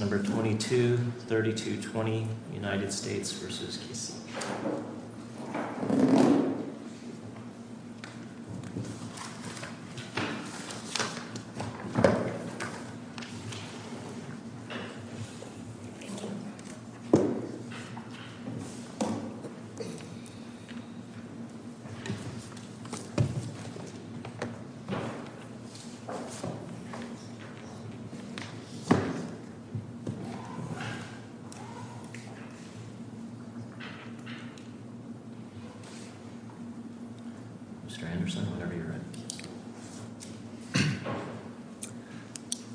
Number 22-32-20 United States v. Kissi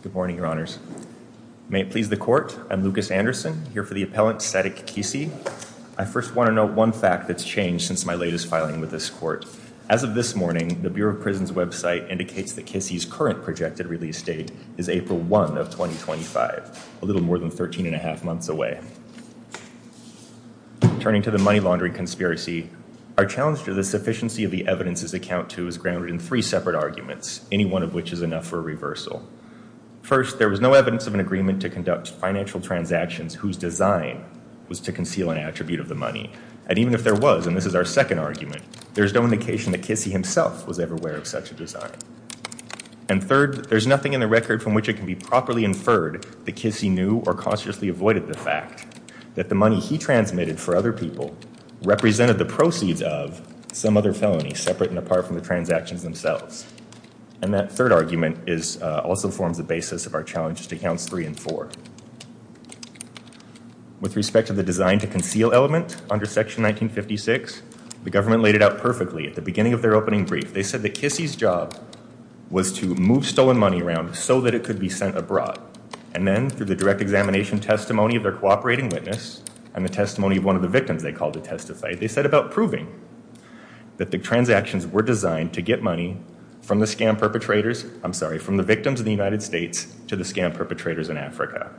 Good morning, your honors. May it please the court, I'm Lucas Anderson, here for the appellant Cedric Kissi. I first want to note one fact that's changed since my latest filing with this court. As of this morning, the Bureau of Prisons website indicates that Kissi's current projected release date is April 1 of 2025, a little more than 13 and a half months away. Turning to the money laundering conspiracy, our challenge to the sufficiency of the evidences account to is grounded in three separate arguments, any one of which is enough for a reversal. First, there was no evidence of an agreement to conduct financial transactions whose design was to conceal an attribute of the money. And even if there was, and this is our second argument, there's no indication that Kissi himself was ever aware of such a design. And third, there's nothing in the record from which it can be properly inferred that Kissi knew or consciously avoided the fact that the money he transmitted for other people represented the proceeds of some other felony separate and apart from the transactions themselves. And that third argument also forms the basis of our challenges to counts three and four. With respect to the design to conceal element under section 1956, the government laid it out perfectly at the beginning of their opening brief. They said that Kissi's job was to move stolen money around so that it could be sent abroad. And then through the direct examination testimony of their cooperating witness and the testimony of one of the victims they called to testify, they set about proving that the transactions were designed to get money from the scam perpetrators, I'm sorry, from the victims of the United States to the scam perpetrators in Africa.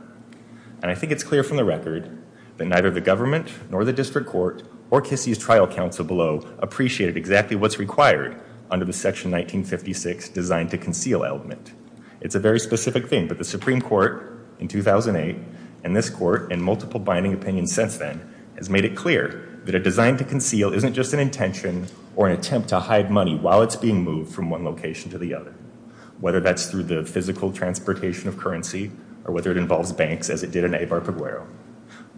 And I think it's clear from the record that neither the government nor the district court or Kissi's trial counsel below appreciated exactly what's required under the section 1956 design to conceal element. It's a very specific thing, but the Supreme Court in 2008 and this court and multiple binding opinions since then has made it clear that a design to conceal isn't just an intention or an attempt to hide money while it's being moved from one location to the other, whether that's through the physical transportation of currency or whether it involves banks as it did in Eibar Pueblo.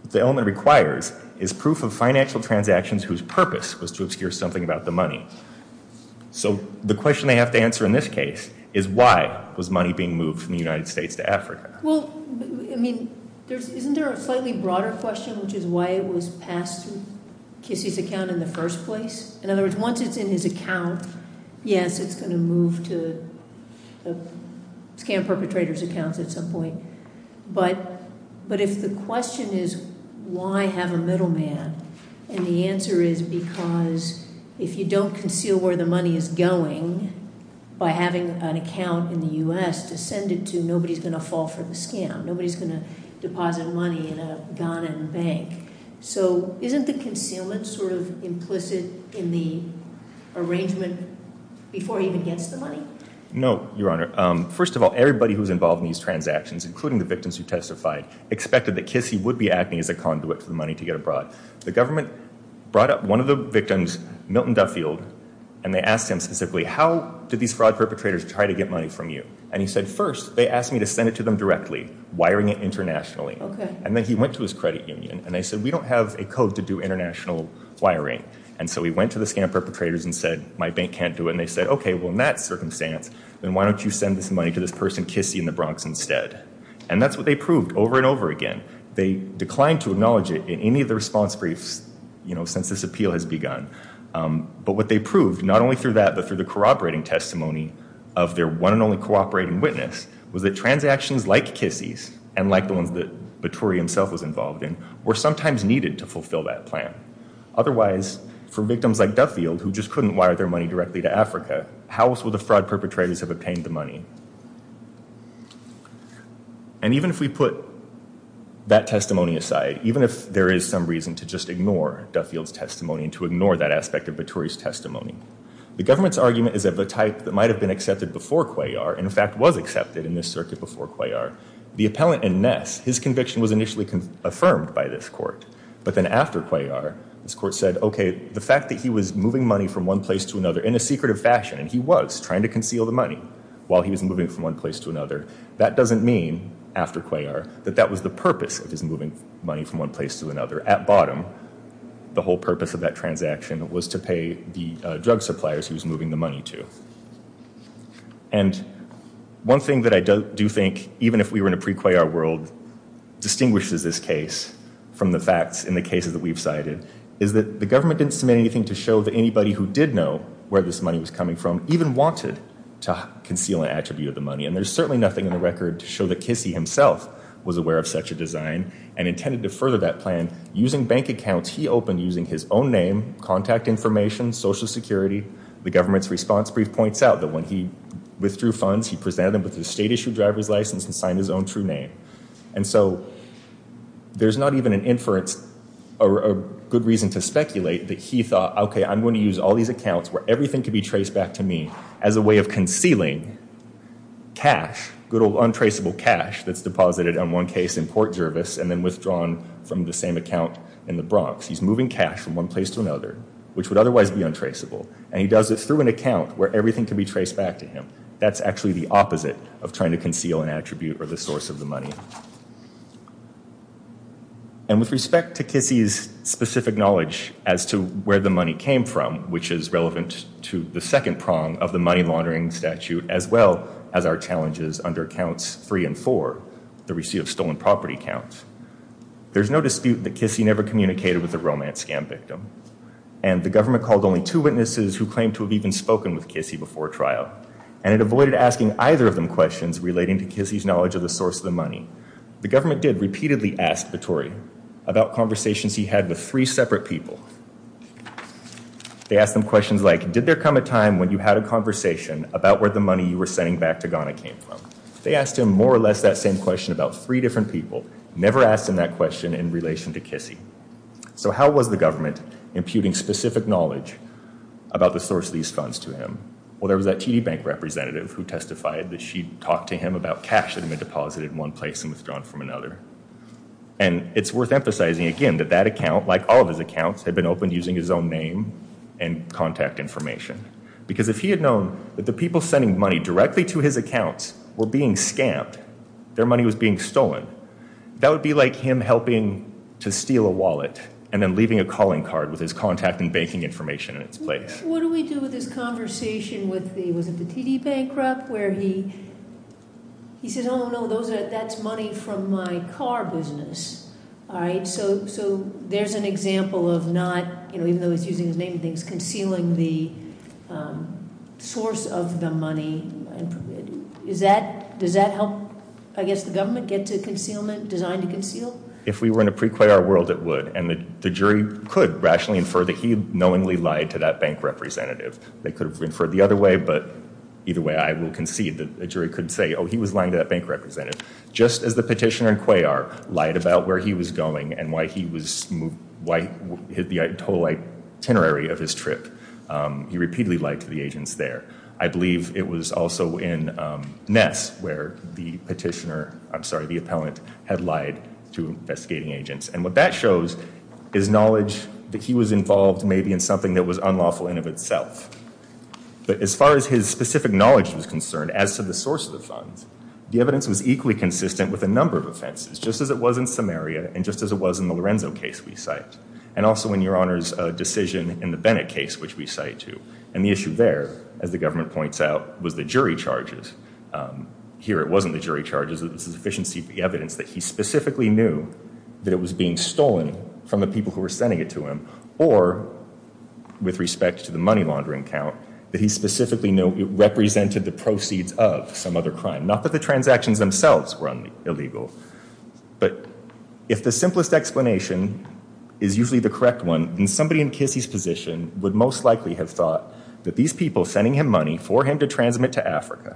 What the element requires is proof of financial transactions whose purpose was to obscure something about the money. So the question they have to answer in this case is why was money being moved from the United States to Africa? Well, I mean, isn't there a slightly broader question which is why it was passed through Kissi's account in the first place? In other words, once it's in his account, yes, it's going to move to the scam perpetrator's accounts at some point. But if the question is why have a middleman, and the answer is because if you don't conceal where the money is going by having an account in the U.S. to send it to, nobody's going to fall for the scam. Nobody's going to deposit money in a Ghanaian bank. So isn't the concealment sort of implicit in the arrangement before he even gets the money? No, Your Honor. First of all, everybody who's involved in these transactions, including the victims who testified, expected that Kissi would be acting as a conduit for the money to get abroad. The government brought up one of the victims, Milton Duffield, and they asked him specifically, how did these fraud perpetrators try to get money from you? And he said, first, they asked me to send it to them directly, wiring it internationally. And then he went to his credit union, and they said, we don't have a code to do international wiring. And so he went to the scam perpetrators and said, my bank can't do it. And they said, OK, well, in that circumstance, then why don't you send this money to this person, Kissi, in the Bronx instead? And that's what they proved over and over again. They declined to acknowledge it in any of the response briefs since this appeal has begun. But what they proved, not only through that, but through the corroborating testimony of their one and only cooperating witness, was that transactions like Kissi's, and like the ones that Baturi himself was involved in, were sometimes needed to fulfill that plan. Otherwise, for victims like Duffield, who just couldn't wire their money directly to Africa, how else would the court do it? And even if we put that testimony aside, even if there is some reason to just ignore Duffield's testimony and to ignore that aspect of Baturi's testimony, the government's argument is that the type that might have been accepted before Cuellar, in fact, was accepted in this circuit before Cuellar, the appellant in Ness, his conviction was initially affirmed by this court. But then after Cuellar, this court said, OK, the fact that he was moving money from one place to another in a secretive fashion, and he was trying to that doesn't mean, after Cuellar, that that was the purpose of his moving money from one place to another. At bottom, the whole purpose of that transaction was to pay the drug suppliers he was moving the money to. And one thing that I do think, even if we were in a pre-Cuellar world, distinguishes this case from the facts in the cases that we've cited, is that the government didn't submit anything to show that anybody who did know where this money was coming from even wanted to conceal an attribute of the money. And there's certainly nothing in the record to show that Kissy himself was aware of such a design and intended to further that plan using bank accounts he opened using his own name, contact information, Social Security. The government's response brief points out that when he withdrew funds, he presented them with his state-issued driver's license and signed his own true name. And so there's not even an inference or a good reason to speculate that he thought, OK, I'm going to use all these accounts where everything could be traced back to me as a way of concealing cash, good old untraceable cash that's deposited, in one case, in Port Jervis and then withdrawn from the same account in the Bronx. He's moving cash from one place to another, which would otherwise be untraceable, and he does it through an account where everything could be traced back to him. That's actually the opposite of trying to conceal an attribute or the source of the money. And with respect to Kissy's specific knowledge as to where the money came from, which is the second prong of the money laundering statute, as well as our challenges under accounts three and four, the receipt of stolen property counts, there's no dispute that Kissy never communicated with the romance scam victim. And the government called only two witnesses who claimed to have even spoken with Kissy before trial, and it avoided asking either of them questions relating to Kissy's knowledge of the source of the money. The government did repeatedly ask Vittori about conversations he had with three when you had a conversation about where the money you were sending back to Ghana came from. They asked him more or less that same question about three different people. Never asked him that question in relation to Kissy. So how was the government imputing specific knowledge about the source of these funds to him? Well, there was that TD Bank representative who testified that she talked to him about cash that had been deposited in one place and withdrawn from another. And it's worth emphasizing again that that account, like all of his accounts, had been opened using his own name and contact information. Because if he had known that the people sending money directly to his accounts were being scammed, their money was being stolen, that would be like him helping to steal a wallet and then leaving a calling card with his contact and banking information in its place. What do we do with this conversation with the TD Bank rep where he says, oh, no, that's money from my car business. So there's an example of even though he's using his name and things, concealing the source of the money. Does that help, I guess, the government get to concealment, designed to conceal? If we were in a pre-Cuellar world, it would. And the jury could rationally infer that he knowingly lied to that bank representative. They could have inferred the other way, but either way, I will concede that a jury could say, oh, he was lying to that bank representative. Just as the petitioner in Cuellar lied about where he was going and why he was, why he had the total itinerary of his trip, he repeatedly lied to the agents there. I believe it was also in Ness where the petitioner, I'm sorry, the appellant had lied to investigating agents. And what that shows is knowledge that he was involved maybe in something that was unlawful in and of itself. But as far as his specific knowledge was concerned, as to the funds, the evidence was equally consistent with a number of offenses, just as it was in Samaria and just as it was in the Lorenzo case we cite. And also in Your Honor's decision in the Bennett case, which we cite too. And the issue there, as the government points out, was the jury charges. Here it wasn't the jury charges, it was the sufficiency of the evidence that he specifically knew that it was being stolen from the people who were sending it to him, or with respect to money laundering count, that he specifically represented the proceeds of some other crime. Not that the transactions themselves were illegal, but if the simplest explanation is usually the correct one, then somebody in Kissy's position would most likely have thought that these people sending him money for him to transmit to Africa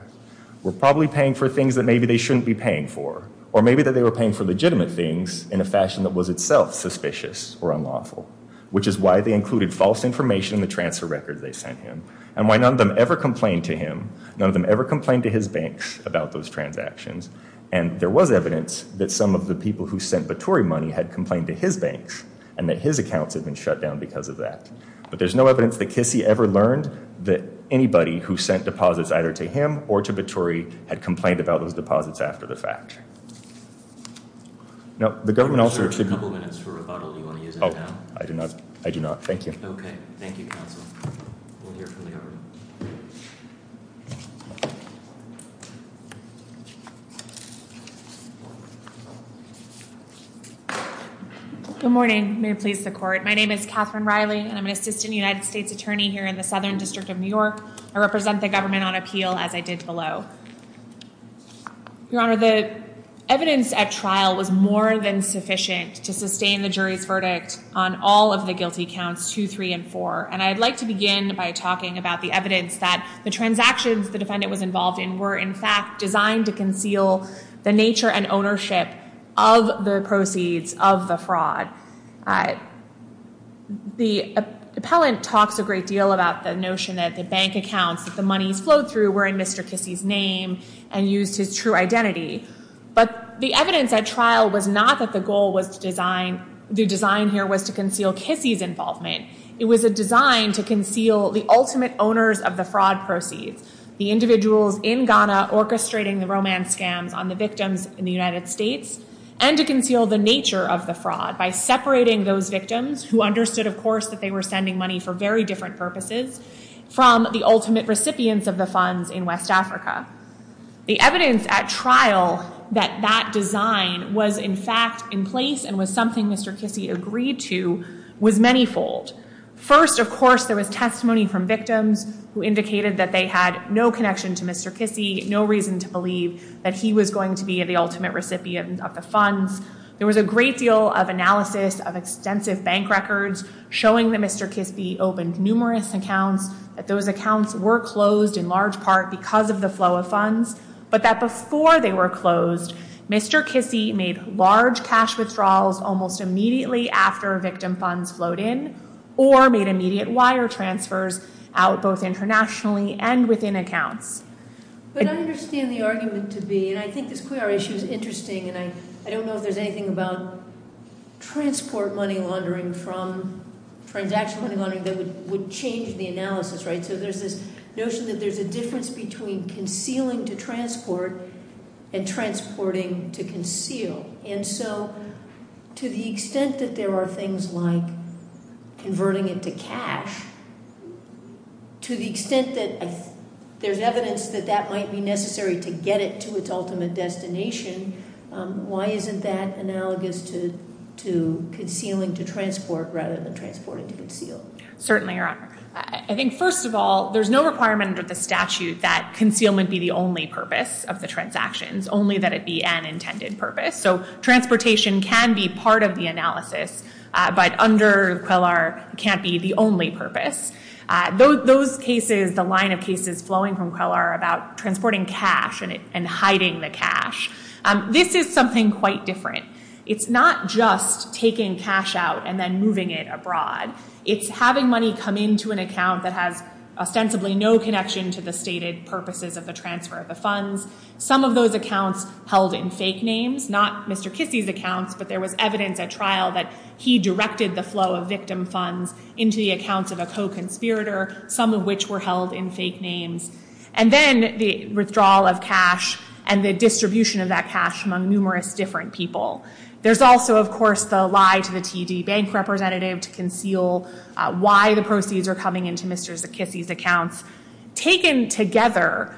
were probably paying for things that maybe they shouldn't be paying for. Or maybe that they were paying for legitimate things in a fashion that was itself suspicious or unlawful. Which is why they included false information in the transfer record they sent him. And why none of them ever complained to him, none of them ever complained to his banks about those transactions. And there was evidence that some of the people who sent Baturi money had complained to his banks, and that his accounts had been shut down because of that. But there's no evidence that Kissy ever learned that anybody who sent deposits either to him or to Baturi had complained about those deposits after the fact. No, the government also... Oh, I do not. I do not. Thank you. Good morning. May it please the court. My name is Catherine Riley, and I'm an Assistant United States Attorney here in the Southern District of New York. I represent the government on appeal as I did below. Your Honor, the evidence at trial was more than sufficient to sustain the jury's verdict on all of the guilty accounts 2, 3, and 4. And I'd like to begin by talking about the evidence that the transactions the defendant was involved in were in fact designed to conceal the nature and ownership of the proceeds of the fraud. The appellant talks a great deal about the notion that the bank accounts that the monies flowed through were in Mr. Kissy's name and used his true identity. But the evidence at trial was not that the goal was to design... the design here was to conceal Kissy's involvement. It was a design to conceal the ultimate owners of the fraud proceeds, the individuals in Ghana orchestrating the romance scams on the victims in the United States, and to conceal the nature of fraud by separating those victims who understood, of course, that they were sending money for very different purposes from the ultimate recipients of the funds in West Africa. The evidence at trial that that design was in fact in place and was something Mr. Kissy agreed to was manifold. First, of course, there was testimony from victims who indicated that they had no connection to Mr. Kissy, no reason to believe that he was going to be the ultimate recipient of the funds. There was a great deal of analysis of extensive bank records showing that Mr. Kissy opened numerous accounts, that those accounts were closed in large part because of the flow of funds, but that before they were closed, Mr. Kissy made large cash withdrawals almost immediately after victim funds flowed in or made immediate wire transfers out both internationally and within accounts. But I understand the argument to be, and I think this Cuiar issue is interesting, and I don't know if there's anything about transport money laundering from transaction money laundering that would change the analysis, right? So there's this notion that there's a difference between concealing to transport and transporting to conceal. And so to the extent that there are things like converting it to cash, to the extent that there's evidence that that might be necessary to get it to its analogous to concealing to transport rather than transporting to conceal. Certainly, Your Honor. I think first of all, there's no requirement under the statute that concealment be the only purpose of the transactions, only that it be an intended purpose. So transportation can be part of the analysis, but under QUELAR can't be the only purpose. Those cases, the line of cases flowing from QUELAR about transporting cash and hiding the cash, this is something quite different. It's not just taking cash out and then moving it abroad. It's having money come into an account that has ostensibly no connection to the stated purposes of the transfer of the funds. Some of those accounts held in fake names, not Mr. Kissy's accounts, but there was evidence at trial that he directed the flow of victim funds into the accounts of a co-conspirator, some of which were held in fake names. And then the withdrawal of that cash among numerous different people. There's also, of course, the lie to the TD bank representative to conceal why the proceeds are coming into Mr. Kissy's accounts. Taken together,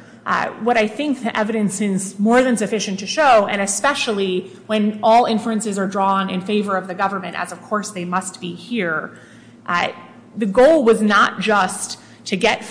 what I think the evidence is more than sufficient to show, and especially when all inferences are drawn in favor of the government, as of course they must be here, the goal was not just to get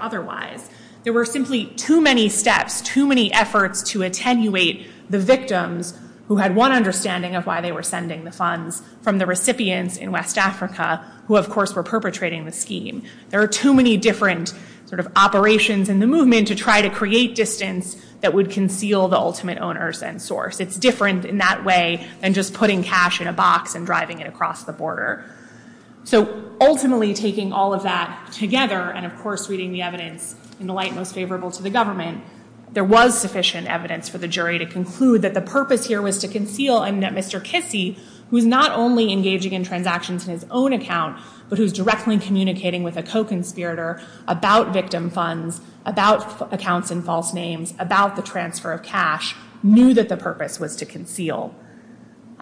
otherwise. There were simply too many steps, too many efforts to attenuate the victims who had one understanding of why they were sending the funds from the recipients in West Africa who, of course, were perpetrating the scheme. There are too many different sort of operations in the movement to try to create distance that would conceal the ultimate owners and source. It's different in that way than just putting cash in a box and driving it across the border. So ultimately taking all of that together and, of course, reading the evidence in the light most favorable to the government, there was sufficient evidence for the jury to conclude that the purpose here was to conceal and that Mr. Kissy, who's not only engaging in transactions in his own account, but who's directly communicating with a co-conspirator about victim funds, about accounts in false names, about the transfer of cash, knew that the purpose was to conceal.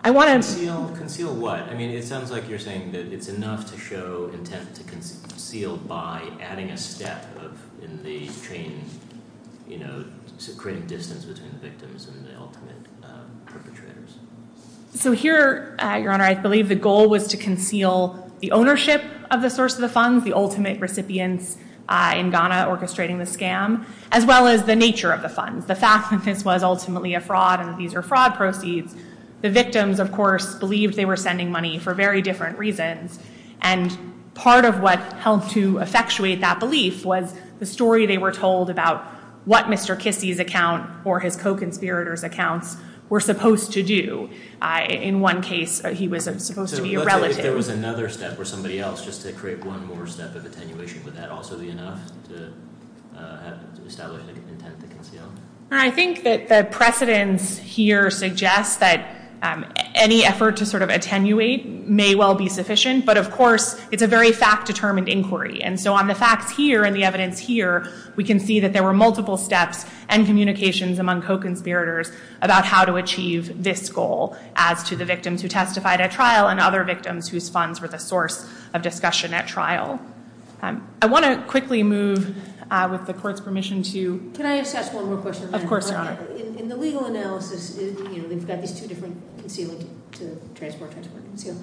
I want to... Conceal what? I mean, it sounds like you're saying that it's enough to show intent to conceal by adding a step of in the chain, you know, creating distance between the victims and the ultimate perpetrators. So here, Your Honor, I believe the goal was to conceal the ownership of the source of the funds, the ultimate recipients in Ghana orchestrating the scam, as well as the nature of the funds. The fact that this was ultimately a fraud and these are fraud proceeds, the victims, of course, believed they were sending money for very different reasons. And part of what helped to effectuate that belief was the story they were told about what Mr. Kissy's account or his co-conspirators accounts were supposed to do. In one case, he was supposed to be a relative. If there was another step or somebody else just to create one more step of attenuation, would that also be enough to establish an intent to conceal? I think that the precedents here suggest that any effort to sort of attenuate may well be sufficient, but of course, it's a very fact-determined inquiry. And so on the facts here and the evidence here, we can see that there were multiple steps and communications among co-conspirators about how to achieve this goal as to the victims who testified at trial and other victims whose funds were the source of discussion at trial. I want to quickly move with the court's permission to... Of course, Your Honor. In the legal analysis, you know, they've got these two different concealing to transport, transport, conceal.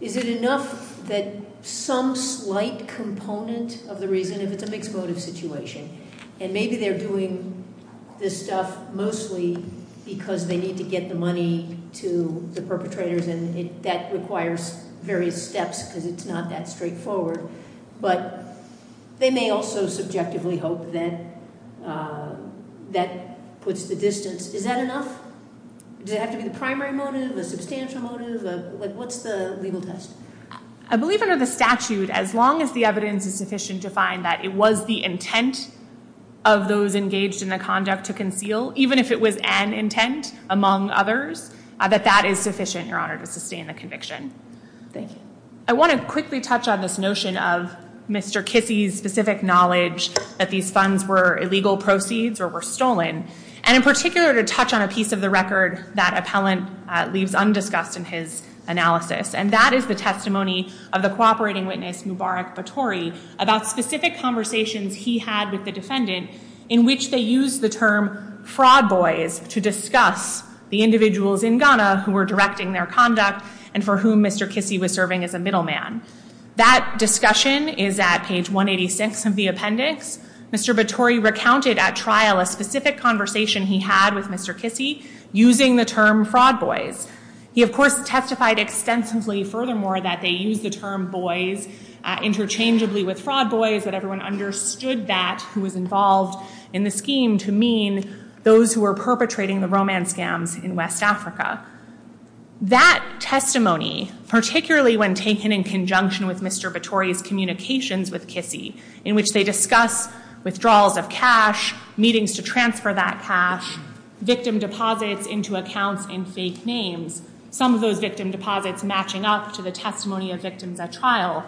Is it enough that some slight component of the reason, if it's a mixed motive situation, and maybe they're doing this stuff mostly because they need to get the money to the perpetrators and that requires various steps because it's not that straightforward, but they may also subjectively hope that that puts the distance. Is that enough? Does it have to be the primary motive, a substantial motive? What's the legal test? I believe under the statute, as long as the evidence is sufficient to find that it was the intent of those engaged in the conduct to conceal, even if it was an intent among others, that that is sufficient, Your Honor, to sustain the conviction. Thank you. I want to quickly touch on this notion of Mr. Kissi's specific knowledge that these funds were illegal proceeds or were stolen, and in particular, to touch on a piece of the record that appellant leaves undiscussed in his analysis, and that is the testimony of the cooperating witness, Mubarak Batori, about specific conversations he had with the defendant in which they used the term fraud boys to discuss the individuals in Ghana who were a middleman. That discussion is at page 186 of the appendix. Mr. Batori recounted at trial a specific conversation he had with Mr. Kissi using the term fraud boys. He, of course, testified extensively furthermore that they used the term boys interchangeably with fraud boys, that everyone understood that who was involved in the scheme to mean those who were perpetrating the romance scams in West Africa. That testimony, particularly when taken in conjunction with Mr. Batori's communications with Kissi, in which they discuss withdrawals of cash, meetings to transfer that cash, victim deposits into accounts in fake names, some of those victim deposits matching up to the testimony of victims at trial,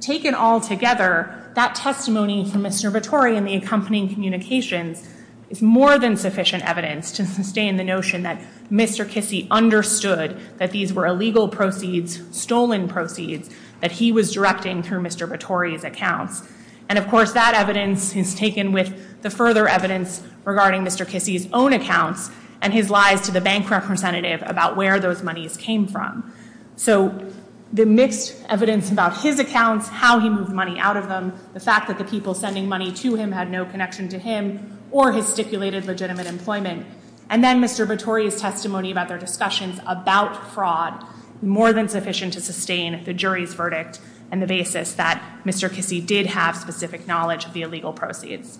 taken all together, that testimony from Mr. Batori and the accompanying communications is more than sufficient evidence to sustain the notion that Mr. Kissi understood that these were illegal proceeds, stolen proceeds, that he was directing through Mr. Batori's accounts. And, of course, that evidence is taken with the further evidence regarding Mr. Kissi's own accounts and his lies to the bank representative about where those monies came from. So the mixed evidence about his accounts, how he moved money out of them, the fact that the people sending money to him had no connection to him or his stipulated legitimate employment, and then Mr. Batori's testimony about their discussions about fraud, more than sufficient to sustain the jury's verdict and the basis that Mr. Kissi did have specific knowledge of the illegal proceeds.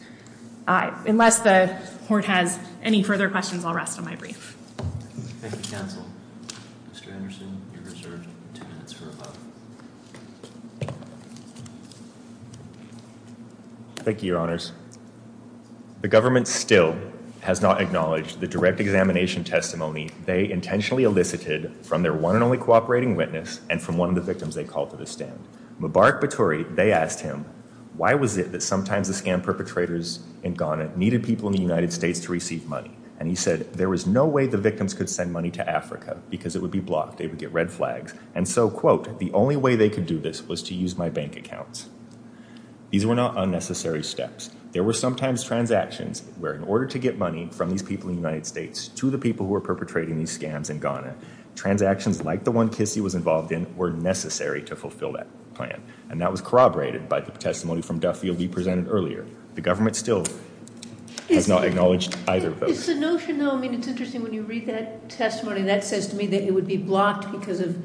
Unless the court has any further questions, I'll rest on my brief. Thank you, counsel. Mr. Anderson, you're reserved two minutes for a vote. Thank you, your honors. The government still has not acknowledged the direct examination testimony they intentionally elicited from their one and only cooperating witness and from one of the victims they called to the stand. Mubarak Batori, they asked him, why was it that sometimes the scam perpetrators in Ghana needed people in the United States to receive money? And he said there was no way the victims could send money to Africa because it would be blocked, they would get red accounts. These were not unnecessary steps. There were sometimes transactions where in order to get money from these people in the United States to the people who were perpetrating these scams in Ghana, transactions like the one Kissi was involved in were necessary to fulfill that plan, and that was corroborated by the testimony from Duffield we presented earlier. The government still has not acknowledged either of those. It's the notion though, I mean it's interesting when you read that testimony that says to me that it would be blocked because of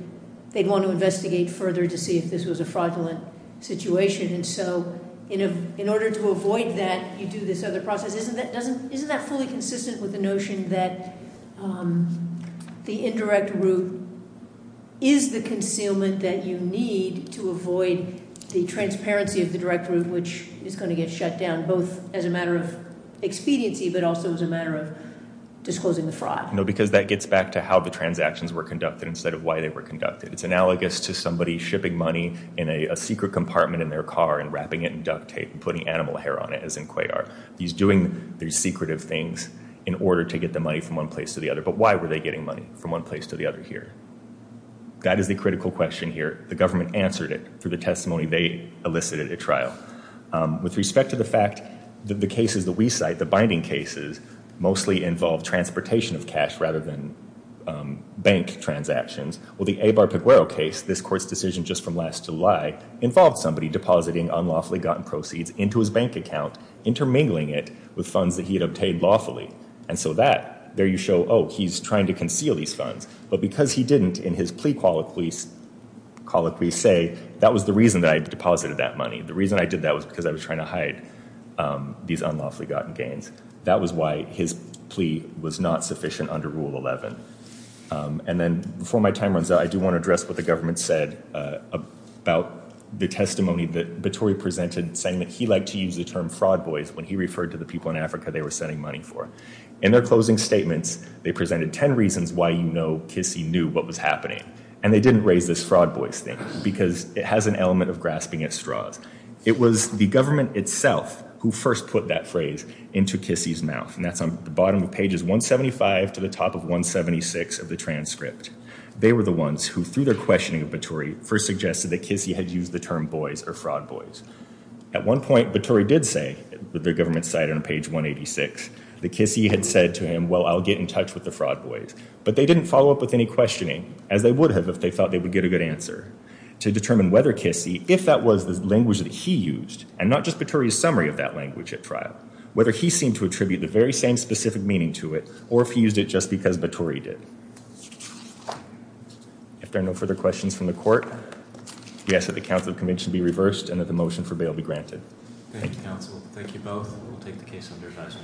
they'd want to investigate further to see if this was a fraudulent situation, and so in order to avoid that you do this other process. Isn't that fully consistent with the notion that the indirect route is the concealment that you need to avoid the transparency of the direct route which is going to get shut down both as a matter of expediency but also as a matter of disclosing the fraud? No, because that gets back to how the transactions were conducted instead of why they were conducted. It's analogous to somebody shipping money in a secret compartment in their car and wrapping it in duct tape and putting animal hair on it as in Cuellar. He's doing these secretive things in order to get the money from one place to the other, but why were they getting money from one place to the other here? That is the critical question here. The government answered it through the testimony they elicited at trial. With respect to the fact that the cases that we cite, the binding cases, mostly involve transportation of cash rather than bank transactions, well the Eibar-Peguero case, this court's decision just from last July, involved somebody depositing unlawfully gotten proceeds into his bank account, intermingling it with funds that he had obtained lawfully, and so that, there you show, oh he's trying to conceal these funds, but because he didn't in his plea colloquy say that was the reason that I deposited that money. The reason I did that was because I was was not sufficient under Rule 11. And then before my time runs out, I do want to address what the government said about the testimony that Battori presented saying that he liked to use the term fraud boys when he referred to the people in Africa they were sending money for. In their closing statements, they presented 10 reasons why you know Kissy knew what was happening, and they didn't raise this fraud boys thing because it has an element of grasping at straws. It was the government itself who first put that phrase into Kissy's mouth, and that's on the bottom of pages 175 to the top of 176 of the transcript. They were the ones who, through their questioning of Battori, first suggested that Kissy had used the term boys or fraud boys. At one point, Battori did say, with the government's side on page 186, that Kissy had said to him, well I'll get in touch with the fraud boys, but they didn't follow up with any questioning, as they would have if they thought they would get a good answer to determine whether Kissy, if that was the language that he used, and not just Battori's summary of that language at trial, whether he seemed to attribute the very same specific meaning to it, or if he used it just because Battori did. If there are no further questions from the court, we ask that the Council of Convention be reversed and that the motion for bail be granted. Thank you, counsel. Thank you both. We'll take the case under advisory.